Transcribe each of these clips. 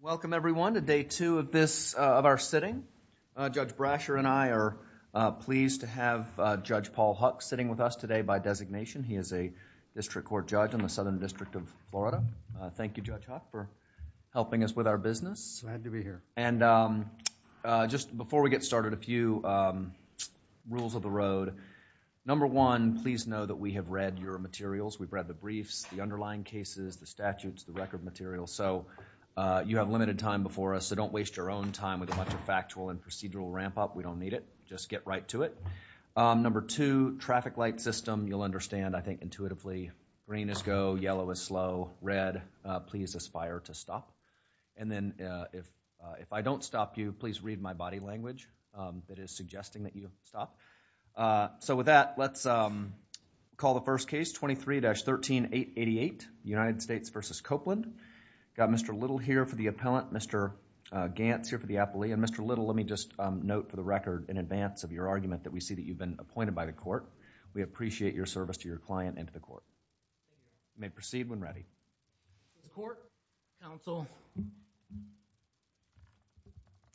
Welcome, everyone, to day two of our sitting. Judge Brasher and I are pleased to have Judge Paul Huck sitting with us today by designation. He is a district court judge in the Southern District of Florida. Thank you, Judge Huck, for helping us with our business. Glad to be here. And just before we get started, a few rules of the road. Number one, please know that we have read your materials. We've read the briefs, the underlying cases, the statutes, the record materials. So you have limited time before us, so don't waste your own time with a bunch of factual and procedural ramp-up. We don't need it. Just get right to it. Number two, traffic light system, you'll understand, I think, intuitively. Green is go, yellow is slow, red, please aspire to stop. And then if I don't stop you, please read my body language that is suggesting that you stop. So with that, let's call the first case, 23-13888, United States v. Copeland. Got Mr. Little here for the appellant, Mr. Gantz here for the appellee, and Mr. Little, let me just note for the record in advance of your argument that we see that you've been appointed by the court. We appreciate your service to your client and to the court. You may proceed when ready. David Copeland Court, counsel.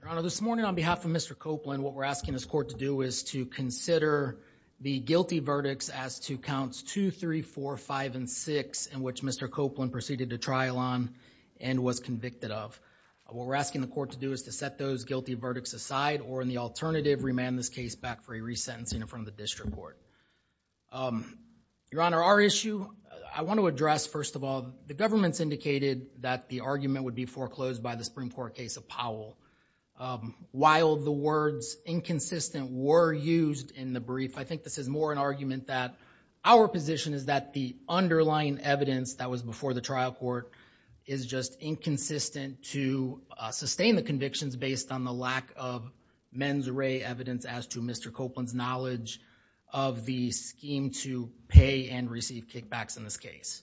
Your Honor, this morning on behalf of Mr. Copeland, what we're asking this court to do is consider the guilty verdicts as to counts 2, 3, 4, 5, and 6 in which Mr. Copeland proceeded to trial on and was convicted of. What we're asking the court to do is to set those guilty verdicts aside or in the alternative, remand this case back for a resentencing in front of the district court. Your Honor, our issue, I want to address, first of all, the government's indicated that the argument would be foreclosed by the Supreme Court case of Powell. While the words inconsistent were used in the brief, I think this is more an argument that our position is that the underlying evidence that was before the trial court is just inconsistent to sustain the convictions based on the lack of mens rea evidence as to Mr. Copeland's knowledge of the scheme to pay and receive kickbacks in this case.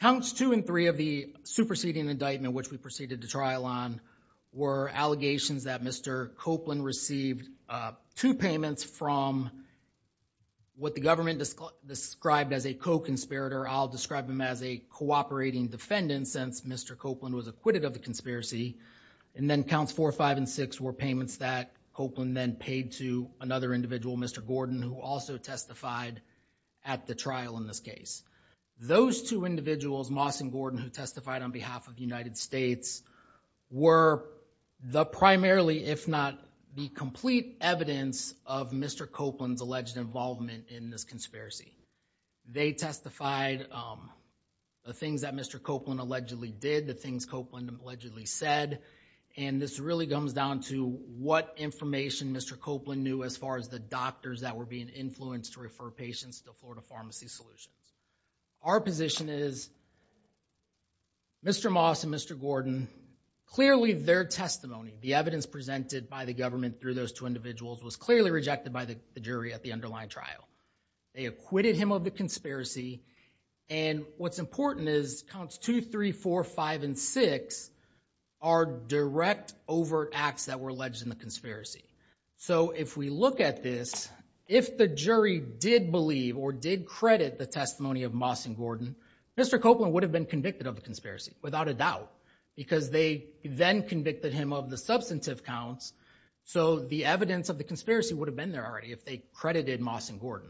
Counts 2 and 3 of the superseding indictment, which we proceeded to trial on, were allegations that Mr. Copeland received two payments from what the government described as a co-conspirator. I'll describe him as a cooperating defendant since Mr. Copeland was acquitted of the conspiracy. Then, counts 4, 5, and 6 were payments that Copeland then paid to another individual, Mr. Gordon, who also testified at the trial in this case. Those two individuals, Moss and Gordon, who testified on behalf of the United States, were the primarily, if not the complete evidence, of Mr. Copeland's alleged involvement in this conspiracy. They testified the things that Mr. Copeland allegedly did, the things Copeland allegedly said, and this really comes down to what information Mr. Copeland knew as far as the doctors that were being influenced to refer patients to Florida Pharmacy Solutions. Our position is Mr. Moss and Mr. Gordon, clearly their testimony, the evidence presented by the government through those two individuals, was clearly rejected by the jury at the underlying trial. They acquitted him of the conspiracy, and what's important is counts 2, 3, 4, 5, and 6 are direct overt acts that were alleged in the or did credit the testimony of Moss and Gordon, Mr. Copeland would have been convicted of the conspiracy, without a doubt, because they then convicted him of the substantive counts, so the evidence of the conspiracy would have been there already if they credited Moss and Gordon.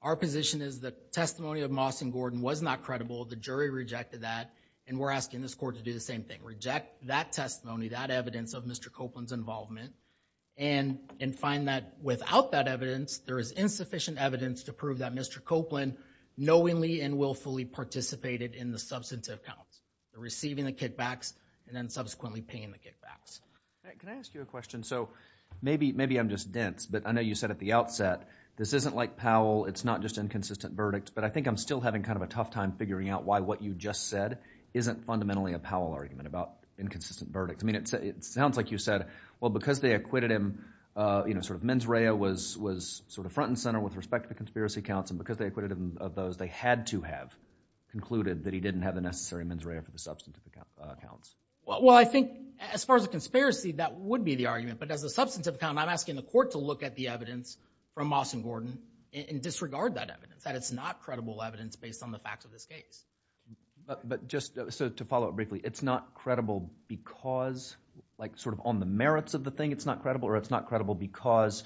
Our position is the testimony of Moss and Gordon was not credible, the jury rejected that, and we're asking this court to do the same thing, reject that testimony, that evidence of Mr. Copeland's involvement, and find that without that evidence, there is insufficient evidence to prove that Mr. Copeland knowingly and willfully participated in the substantive counts, receiving the kickbacks, and then subsequently paying the kickbacks. Can I ask you a question? So maybe, maybe I'm just dense, but I know you said at the outset, this isn't like Powell, it's not just inconsistent verdict, but I think I'm still having kind of a tough time figuring out why what you just said isn't fundamentally a Powell argument about inconsistent verdict. I mean, it sounds like you said, well, because they acquitted him, you know, sort of mens rea was sort of front and center with respect to the conspiracy counts, and because they acquitted him of those, they had to have concluded that he didn't have the necessary mens rea for the substantive counts. Well, I think as far as a conspiracy, that would be the argument, but as a substantive count, I'm asking the court to look at the evidence from Moss and Gordon and disregard that evidence, that it's not credible evidence based on the facts of this case. But just to follow up briefly, it's not credible because, like, on the merits of the thing, it's not credible, or it's not credible because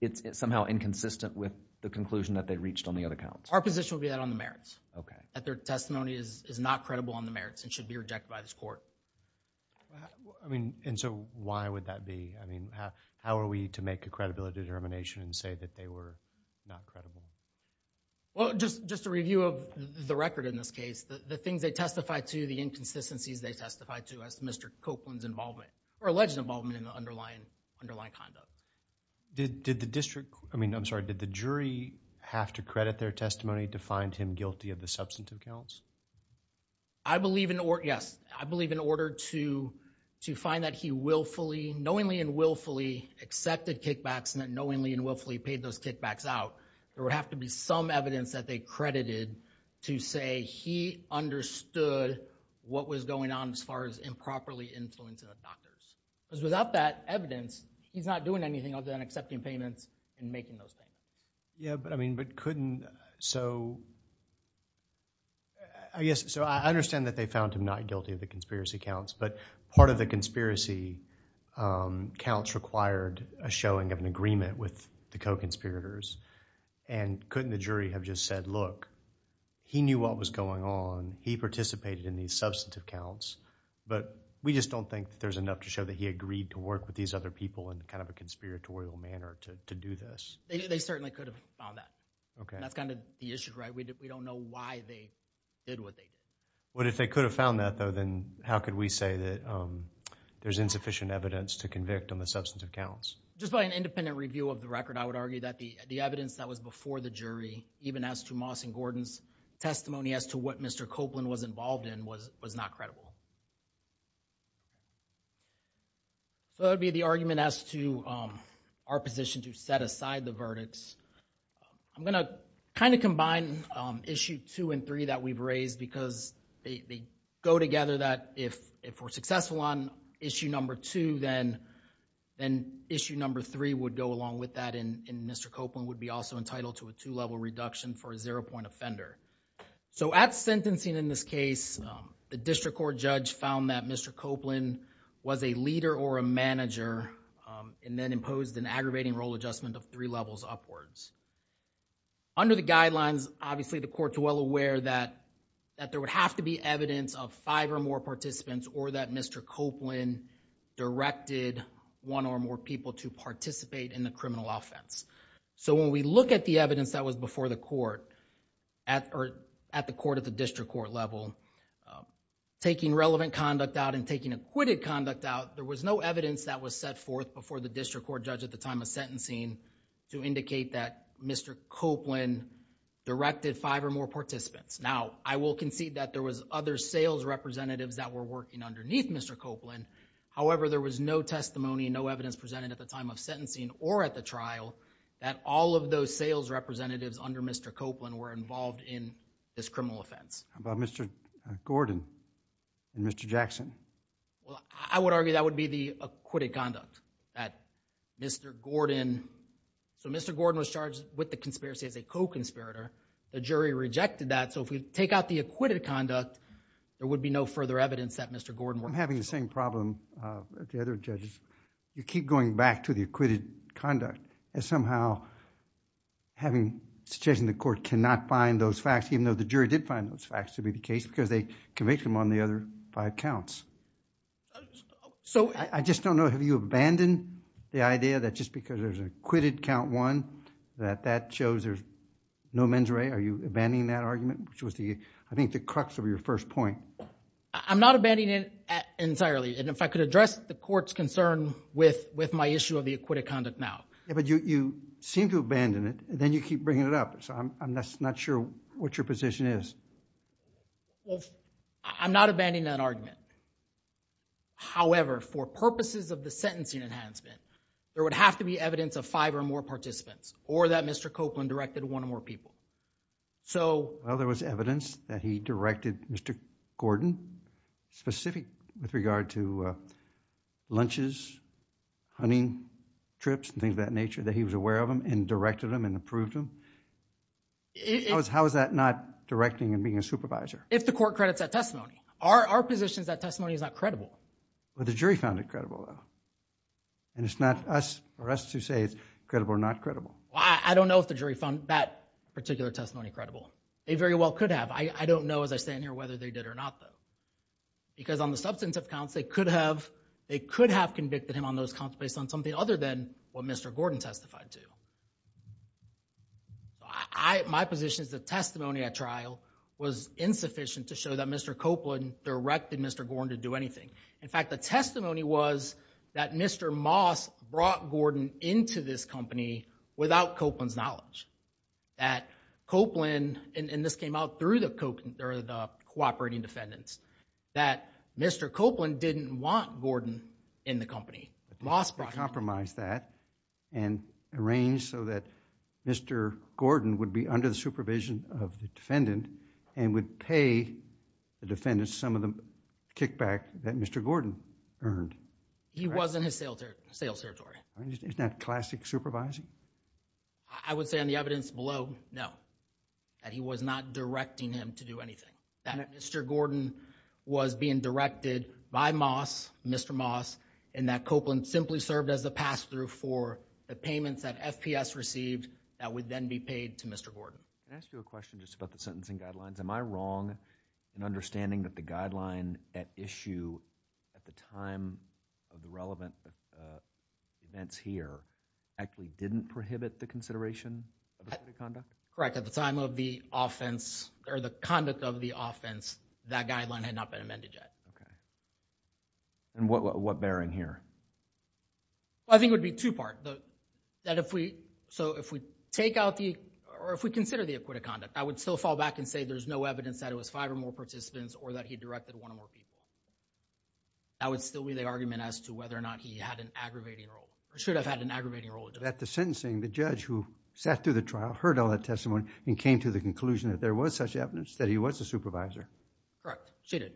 it's somehow inconsistent with the conclusion that they reached on the other counts? Our position would be that on the merits. Okay. That their testimony is not credible on the merits and should be rejected by this court. I mean, and so why would that be? I mean, how are we to make a credibility determination and say that they were not credible? Well, just a review of the record in this case, the things they testified to, the inconsistencies they testified to as Mr. Copeland's involvement. Or alleged involvement in the underlying conduct. Did the district, I mean, I'm sorry, did the jury have to credit their testimony to find him guilty of the substantive counts? I believe in order, yes. I believe in order to find that he willfully, knowingly and willfully accepted kickbacks and that knowingly and willfully paid those kickbacks out, there would have to be some evidence that they credited to say he understood what was on as far as improperly influencing the doctors. Because without that evidence, he's not doing anything other than accepting payments and making those payments. Yeah, but I mean, but couldn't, so, I guess, so I understand that they found him not guilty of the conspiracy counts, but part of the conspiracy counts required a showing of an agreement with the co-conspirators. And couldn't the jury have just said, look, he knew what was going on, he participated in these substantive counts, but we just don't think there's enough to show that he agreed to work with these other people in kind of a conspiratorial manner to do this. They certainly could have found that. Okay. That's kind of the issue, right? We don't know why they did what they did. But if they could have found that though, then how could we say that there's insufficient evidence to convict on the substantive counts? Just by an independent review of the record, I would argue that the evidence that was before the jury, even as to Moss and Gordon's testimony as to what Mr. Copeland was involved in was not credible. So that would be the argument as to our position to set aside the verdicts. I'm going to kind of combine issue two and three that we've raised because they go together that if we're successful on issue number two, then issue number three would go along with that and Mr. Copeland would be also entitled to a two-level reduction for a zero-point offender. So at sentencing in this case, the district court judge found that Mr. Copeland was a leader or a manager and then imposed an aggravating role adjustment of three levels upwards. Under the guidelines, obviously the court's well aware that there would have to be evidence of five or more participants or that Mr. Copeland directed one or more people to participate in the criminal offense. So when we look at the evidence that was before the court or at the court at the district court level, taking relevant conduct out and taking acquitted conduct out, there was no evidence that was set forth before the district court judge at the time of sentencing to indicate that Mr. Copeland directed five or more participants. Now, I will concede that there was other sales representatives that were working underneath Mr. Copeland. However, there was no testimony, no evidence presented at the time of sentencing or at the trial that all of those sales representatives under Mr. Copeland were involved in this criminal offense. How about Mr. Gordon and Mr. Jackson? Well, I would argue that would be the acquitted conduct that Mr. Gordon. So Mr. Gordon was charged with the conspiracy as a co-conspirator. The jury rejected that. So if we take out the acquitted conduct, there would be no further evidence that Mr. Gordon worked for. I'm having the same problem with the other judges. You keep going back to the acquitted conduct and somehow having suggestion the court cannot find those facts, even though the jury did find those facts to be the case because they convicted him on the other five counts. So I just don't know, have you abandoned the idea that just because there's an acquitted count one that that shows there's no mens re? Are you abandoning that argument, which was the, I think the crux of your first point? I'm not abandoning it entirely. And if I could address the court's concern with my issue of the acquitted conduct now. Yeah, but you seem to abandon it and then you keep bringing it up. So I'm not sure what your position is. Well, I'm not abandoning that argument. However, for purposes of the sentencing enhancement, there would have to be evidence of five or more participants or that Mr. Copeland directed one or more people. So, well, there was evidence that he directed Mr. Gordon specific with regard to lunches, hunting trips, things of that nature, that he was aware of them and directed them and approved them. How is that not directing and being a supervisor? If the court credits that testimony, our position is that testimony is not credible. But the jury found it credible, though. And it's not us or us to say it's credible or not credible. Well, I don't know if the jury found that particular testimony credible. They very well could have. I don't know, as I stand here, whether they did or not, though. Because on the substantive counts, they could have, they could have convicted him on those counts based on something other than what Mr. Gordon testified to. My position is the testimony at trial was insufficient to show that Mr. Copeland directed Mr. Gordon to do anything. In fact, the testimony was that Mr. Moss brought Gordon into this company without Copeland's That Copeland, and this came out through the cooperating defendants, that Mr. Copeland didn't want Gordon in the company. Moss brought him. Compromise that and arrange so that Mr. Gordon would be under the supervision of the defendant and would pay the defendants some of the kickback that Mr. Gordon earned. He was in his sales territory. Isn't that classic supervising? I would say on the evidence below, no, that he was not directing him to do anything. That Mr. Gordon was being directed by Moss, Mr. Moss, and that Copeland simply served as the pass-through for the payments that FPS received that would then be paid to Mr. Gordon. Can I ask you a question just about the sentencing guidelines? Am I wrong in understanding that the guideline at issue at the time of the relevant events here actually didn't prohibit the consideration of the conduct? Correct. At the time of the offense or the conduct of the offense, that guideline had not been amended yet. Okay, and what bearing here? Well, I think it would be two-part. So if we take out the or if we consider the acquittal conduct, I would still fall back and say there's no evidence that it was five or more participants or that he directed one or more people. That would still be the argument as to whether or not he had an aggravating role or should have had an aggravating role. At the sentencing, the judge who sat through the trial, heard all that testimony and came to the conclusion that there was such evidence that he was a supervisor? Correct, she did.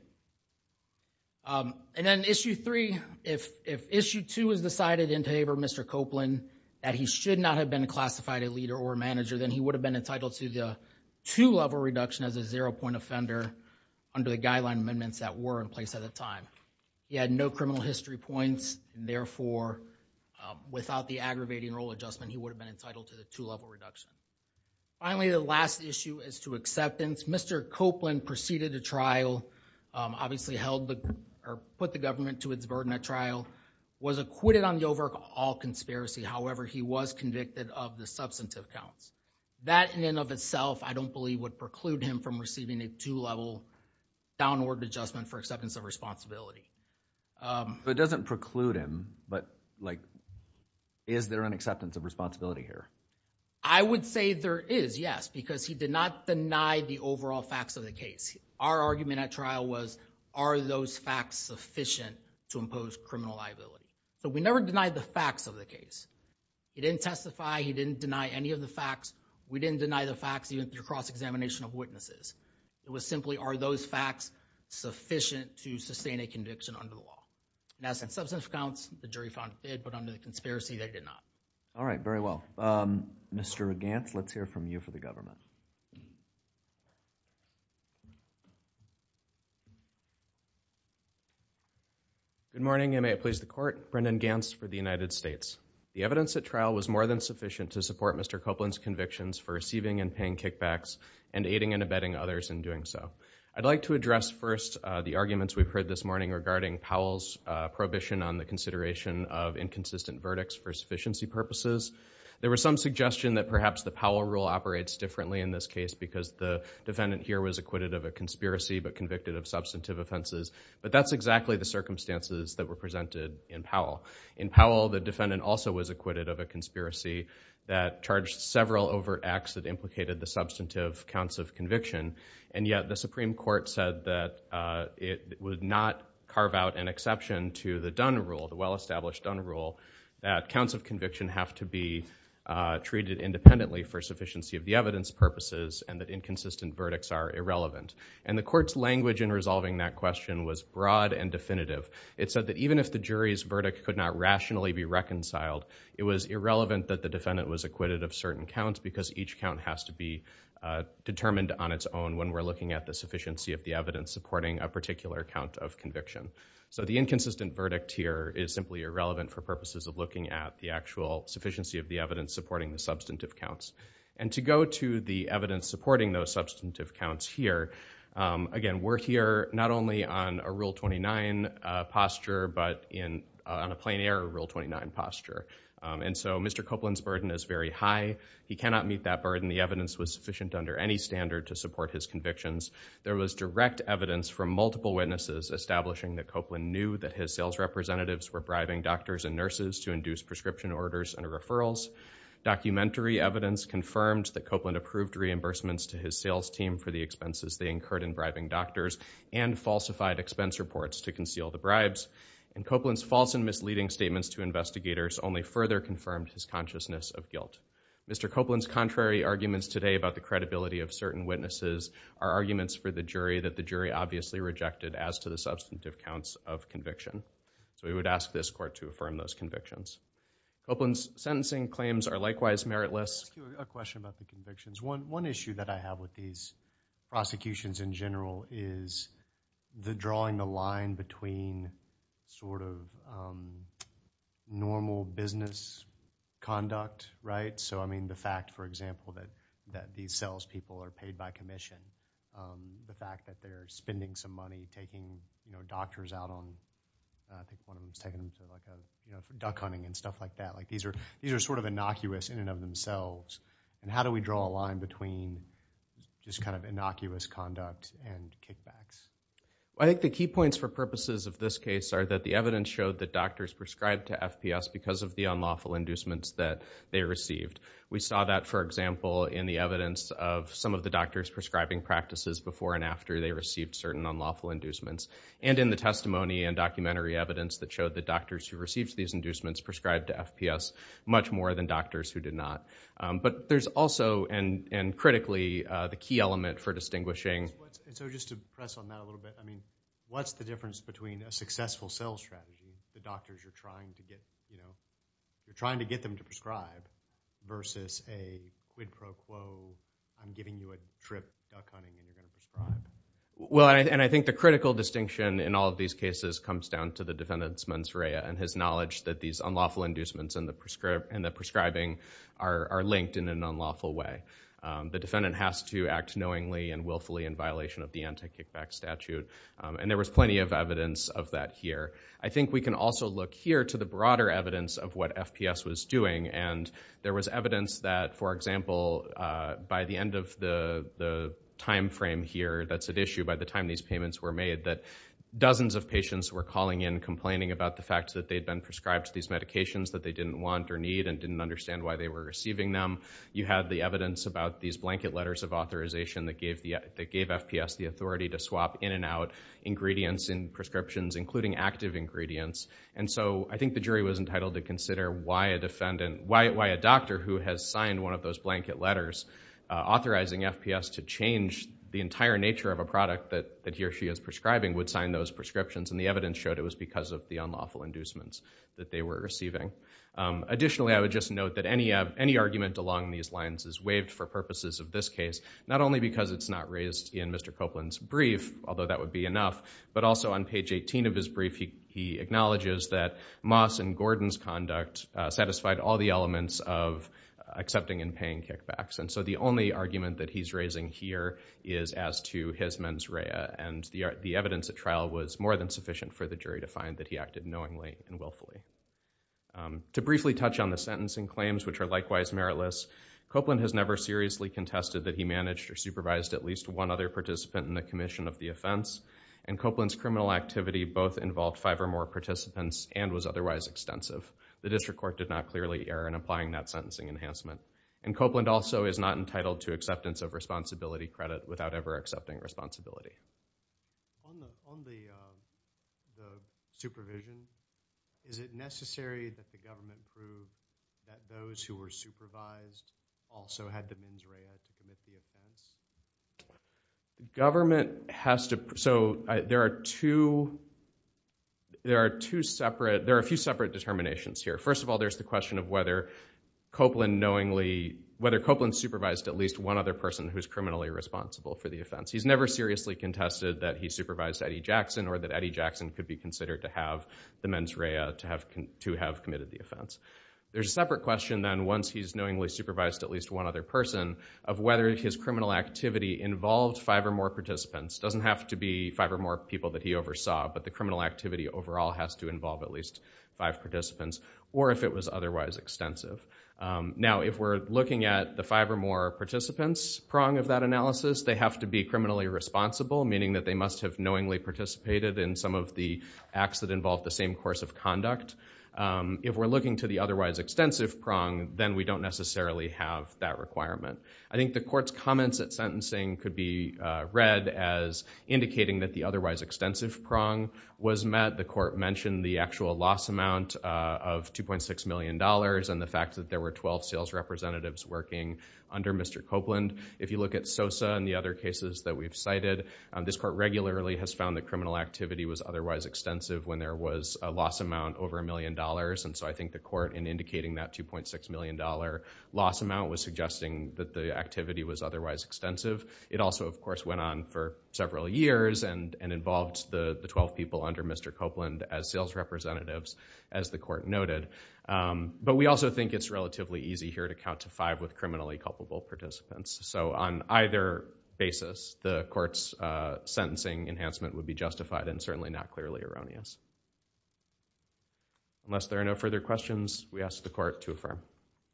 And then issue three, if issue two is decided in favor of Mr. Copeland that he should not have been classified a leader or a manager, then he would have been entitled to the two-level reduction as a zero-point offender under the guideline amendments that were in place at the time. He had no criminal history points. Therefore, without the aggravating role adjustment, he would have been entitled to the two-level reduction. Finally, the last issue is to acceptance. Mr. Copeland proceeded a trial, obviously held the, or put the government to its burden at trial, was acquitted on the overall conspiracy. However, he was convicted of the substantive counts. That in and of itself, I don't believe would preclude him from receiving a two-level downward adjustment for acceptance of responsibility. So it doesn't preclude him, but like, is there an acceptance of responsibility here? I would say there is, yes, because he did not deny the overall facts of the case. Our argument at trial was, are those facts sufficient to impose criminal liability? So we never denied the facts of the case. He didn't testify. He didn't deny any of the facts. We didn't deny the facts even through cross-examination of witnesses. It was simply, are those facts sufficient to sustain a conviction under the law? And as in substantive counts, the jury found it did, but under the conspiracy, they did not. All right, very well. Mr. Gantz, let's hear from you for the government. Good morning, and may it please the Court. Brendan Gantz for the United States. The evidence at trial was more than sufficient to support Mr. Copeland's convictions for receiving and paying kickbacks and aiding and abetting others in doing so. I'd like to address first the arguments we've heard this morning regarding Powell's prohibition on the consideration of inconsistent verdicts for sufficiency purposes. There was some suggestion that perhaps the Powell rule operates differently in this case because the defendant here was acquitted of a conspiracy but convicted of substantive offenses. But that's exactly the circumstances that were presented in Powell. In Powell, the defendant also was acquitted of a conspiracy that charged several overt acts that implicated the substantive counts of conviction. And yet, the Supreme Court said that it would not carve out an exception to the Dunn rule, the well-established Dunn rule, that counts of conviction have to be treated independently for sufficiency of the evidence purposes and that inconsistent verdicts are irrelevant. And the Court's language in resolving that question was broad and definitive. It said that even if the jury's verdict could not rationally be reconciled, it was irrelevant that the defendant was acquitted of certain counts because each count has to be determined on its own when we're looking at the sufficiency of the evidence supporting a particular count of conviction. So the inconsistent verdict here is simply irrelevant for purposes of looking at the actual sufficiency of the evidence supporting the substantive counts. And to go to the evidence supporting those substantive counts here, again, we're here not only on a Rule 29 posture but on a plain air Rule 29 posture. And so Mr. Copeland's burden is very high. He cannot meet that burden. The evidence was sufficient under any standard to support his convictions. There was direct evidence from multiple witnesses establishing that Copeland knew that his sales representatives were bribing doctors and nurses to induce prescription orders and referrals. Documentary evidence confirmed that Copeland approved reimbursements to his sales team for the expenses they incurred in bribing doctors and falsified expense reports to conceal the bribes. And Copeland's false and misleading statements to investigators only further confirmed his consciousness of guilt. Mr. Copeland's contrary arguments today about the credibility of certain witnesses are arguments for the jury that the jury obviously rejected as to the substantive counts of conviction. So we would ask this court to affirm those convictions. Copeland's sentencing claims are likewise meritless. I have a question about the convictions. One issue that I have with these prosecutions in general is the drawing the line between sort of normal business conduct, right? So, I mean, the fact, for example, that these salespeople are paid by commission, the fact that they're spending some money taking, you know, doctors out on, I think one of them was taking them to like a, you know, duck hunting and stuff like that. Like these are sort of innocuous in and of themselves. And how do we draw a line between just kind of innocuous conduct and kickbacks? I think the key points for purposes of this case are that the evidence showed that doctors prescribed to FPS because of the unlawful inducements that they received. We saw that, for example, in the evidence of some of the doctors prescribing practices before and after they received certain unlawful inducements. And in the testimony and documentary evidence that showed the doctors who received these inducements prescribed to FPS much more than doctors who did not. But there's also, and critically, the key element for distinguishing. And so, just to press on that a little bit, I mean, what's the difference between a successful sales strategy, the doctors you're trying to get, you know, you're trying to get them to prescribe versus a quid pro quo, I'm giving you a trip, duck hunting, and you're going to prescribe? Well, and I think the critical distinction in all of these cases comes down to the defendant's mens rea and his knowledge that these unlawful inducements and the prescribing are linked in an unlawful way. The defendant has to act knowingly and willfully in violation of the anti-kickback statute. And there was plenty of evidence of that here. I think we can also look here to the broader evidence of what FPS was doing. And there was evidence that, for example, by the end of the time frame here, that's at issue by the time these payments were made, that dozens of patients were calling in complaining about the fact that they'd been prescribed these medications that they didn't want or need and didn't understand why they were receiving them. You had the evidence about these blanket letters of authorization that gave FPS the authority to swap in and out ingredients in prescriptions, including active ingredients. And so I think the jury was entitled to consider why a doctor who has signed one of those blanket letters authorizing FPS to change the entire nature of a product that he or she is prescribing would sign those prescriptions. And the evidence showed it was because of the unlawful inducements that they were receiving. Additionally, I would just note that any argument along these lines is waived for purposes of this case, not only because it's not raised in Mr. Copeland's brief, although that would be enough, but also on page 18 of his brief, he acknowledges that Moss and Gordon's conduct satisfied all the elements of accepting and paying kickbacks. And so the only argument that he's raising here is as to his mens rea. And the evidence at trial was more than sufficient for the jury to find that he acted knowingly and willfully. To briefly touch on the sentencing claims, which are likewise meritless, Copeland has never seriously contested that he managed or supervised at least one other participant in the commission of the offense. And Copeland's criminal activity both involved five or more participants and was otherwise extensive. The district court did not clearly err in applying that sentencing enhancement. And Copeland also is not entitled to acceptance of responsibility credit without ever accepting responsibility. On the supervision, is it necessary that the government prove that those who were supervised also had the mens rea to commit the offense? Government has to, so there are two, there are two separate, there are a few separate determinations here. First of all, there's the question of whether Copeland knowingly, whether Copeland supervised at least one other person who's criminally responsible for the offense. He's never seriously contested that he supervised Eddie Jackson or that Eddie Jackson could be considered to have the mens rea to have committed the offense. There's a separate question then once he's knowingly supervised at least one other person of whether his criminal activity involved five or more participants. Doesn't have to be five or more people that he oversaw, but the criminal activity overall has to involve at least five participants or if it was otherwise extensive. Now, if we're looking at the five or more participants prong of that analysis, they have to be criminally responsible, meaning that they must have knowingly participated in some of the acts that involve the same course of conduct. If we're looking to the otherwise extensive prong, then we don't necessarily have that requirement. I think the court's comments at sentencing could be read as indicating that the otherwise extensive prong was met. The court mentioned the actual loss amount of $2.6 million and the fact that there were 12 sales representatives working under Mr. Copeland. If you look at Sosa and the other cases that we've cited, this court regularly has found the criminal activity was otherwise extensive when there was a loss amount over a million dollars. So I think the court in indicating that $2.6 million loss amount was suggesting that the activity was otherwise extensive. It also, of course, went on for several years and involved the 12 people under Mr. Copeland as sales representatives, as the court noted. But we also think it's relatively easy here to count to five with criminally culpable participants. So on either basis, the court's sentencing enhancement would be justified and certainly not clearly erroneous. Unless there are no further questions, we ask the court to affirm.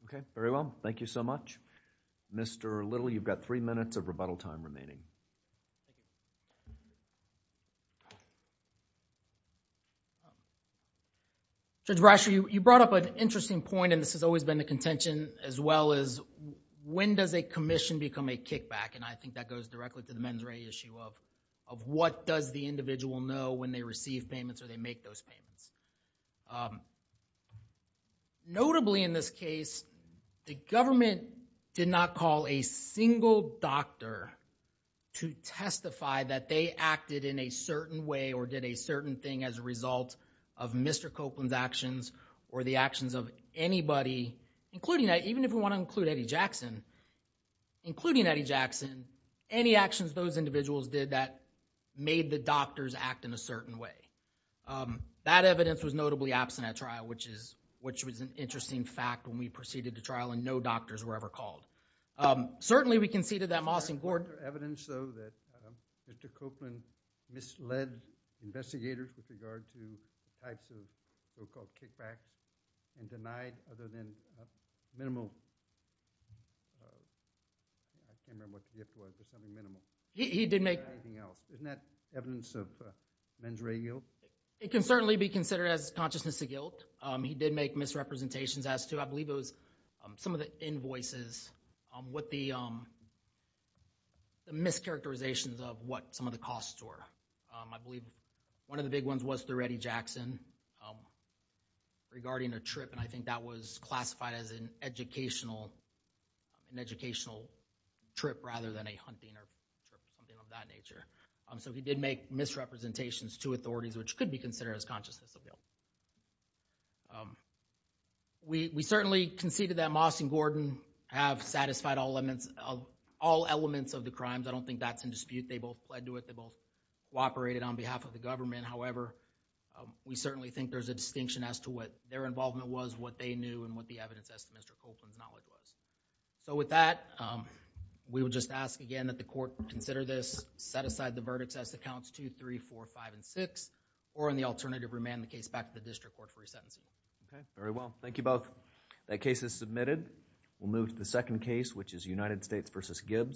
Okay. Very well. Thank you so much. Mr. Little, you've got three minutes of rebuttal time remaining. Judge Brasher, you brought up an interesting point and this has always been the contention as well as when does a commission become a kickback? And I think that goes directly to the mens rea issue of what does the individual know when they receive payments or they make those payments? Notably in this case, the government did not call a single doctor to testify that they acted in a certain way or did a certain thing as a result of Mr. Copeland's actions or the anybody, including that, even if we want to include Eddie Jackson, including Eddie Jackson, any actions those individuals did that made the doctors act in a certain way. That evidence was notably absent at trial, which was an interesting fact when we proceeded to trial and no doctors were ever called. Certainly we conceded that Moss and Gordon- Evidence though that Mr. Copeland misled investigators with regard to types of so-called kickbacks and denied other than a minimal, I can't remember what the gift was, but something minimal, or anything else. Isn't that evidence of mens rea guilt? It can certainly be considered as consciousness of guilt. He did make misrepresentations as to, I believe it was some of the invoices, what the mischaracterizations of what some of the costs were. I believe one of the big ones was through Eddie Jackson regarding a trip, and I think that was classified as an educational trip rather than a hunting or something of that nature. So he did make misrepresentations to authorities, which could be considered as consciousness of guilt. We certainly conceded that Moss and Gordon have satisfied all elements of the crimes. I don't think that's in dispute. They both pled to it. They both cooperated on behalf of the government. However, we certainly think there's a distinction as to what their involvement was, what they knew, and what the evidence as to Mr. Copeland's knowledge was. So with that, we would just ask again that the court consider this, set aside the verdicts as to counts 2, 3, 4, 5, and 6, or in the alternative remand the case back to the district court for resentencing. Okay. Very well. Thank you both. That case is submitted. We'll move to the second case, which is United States v. Gibbs.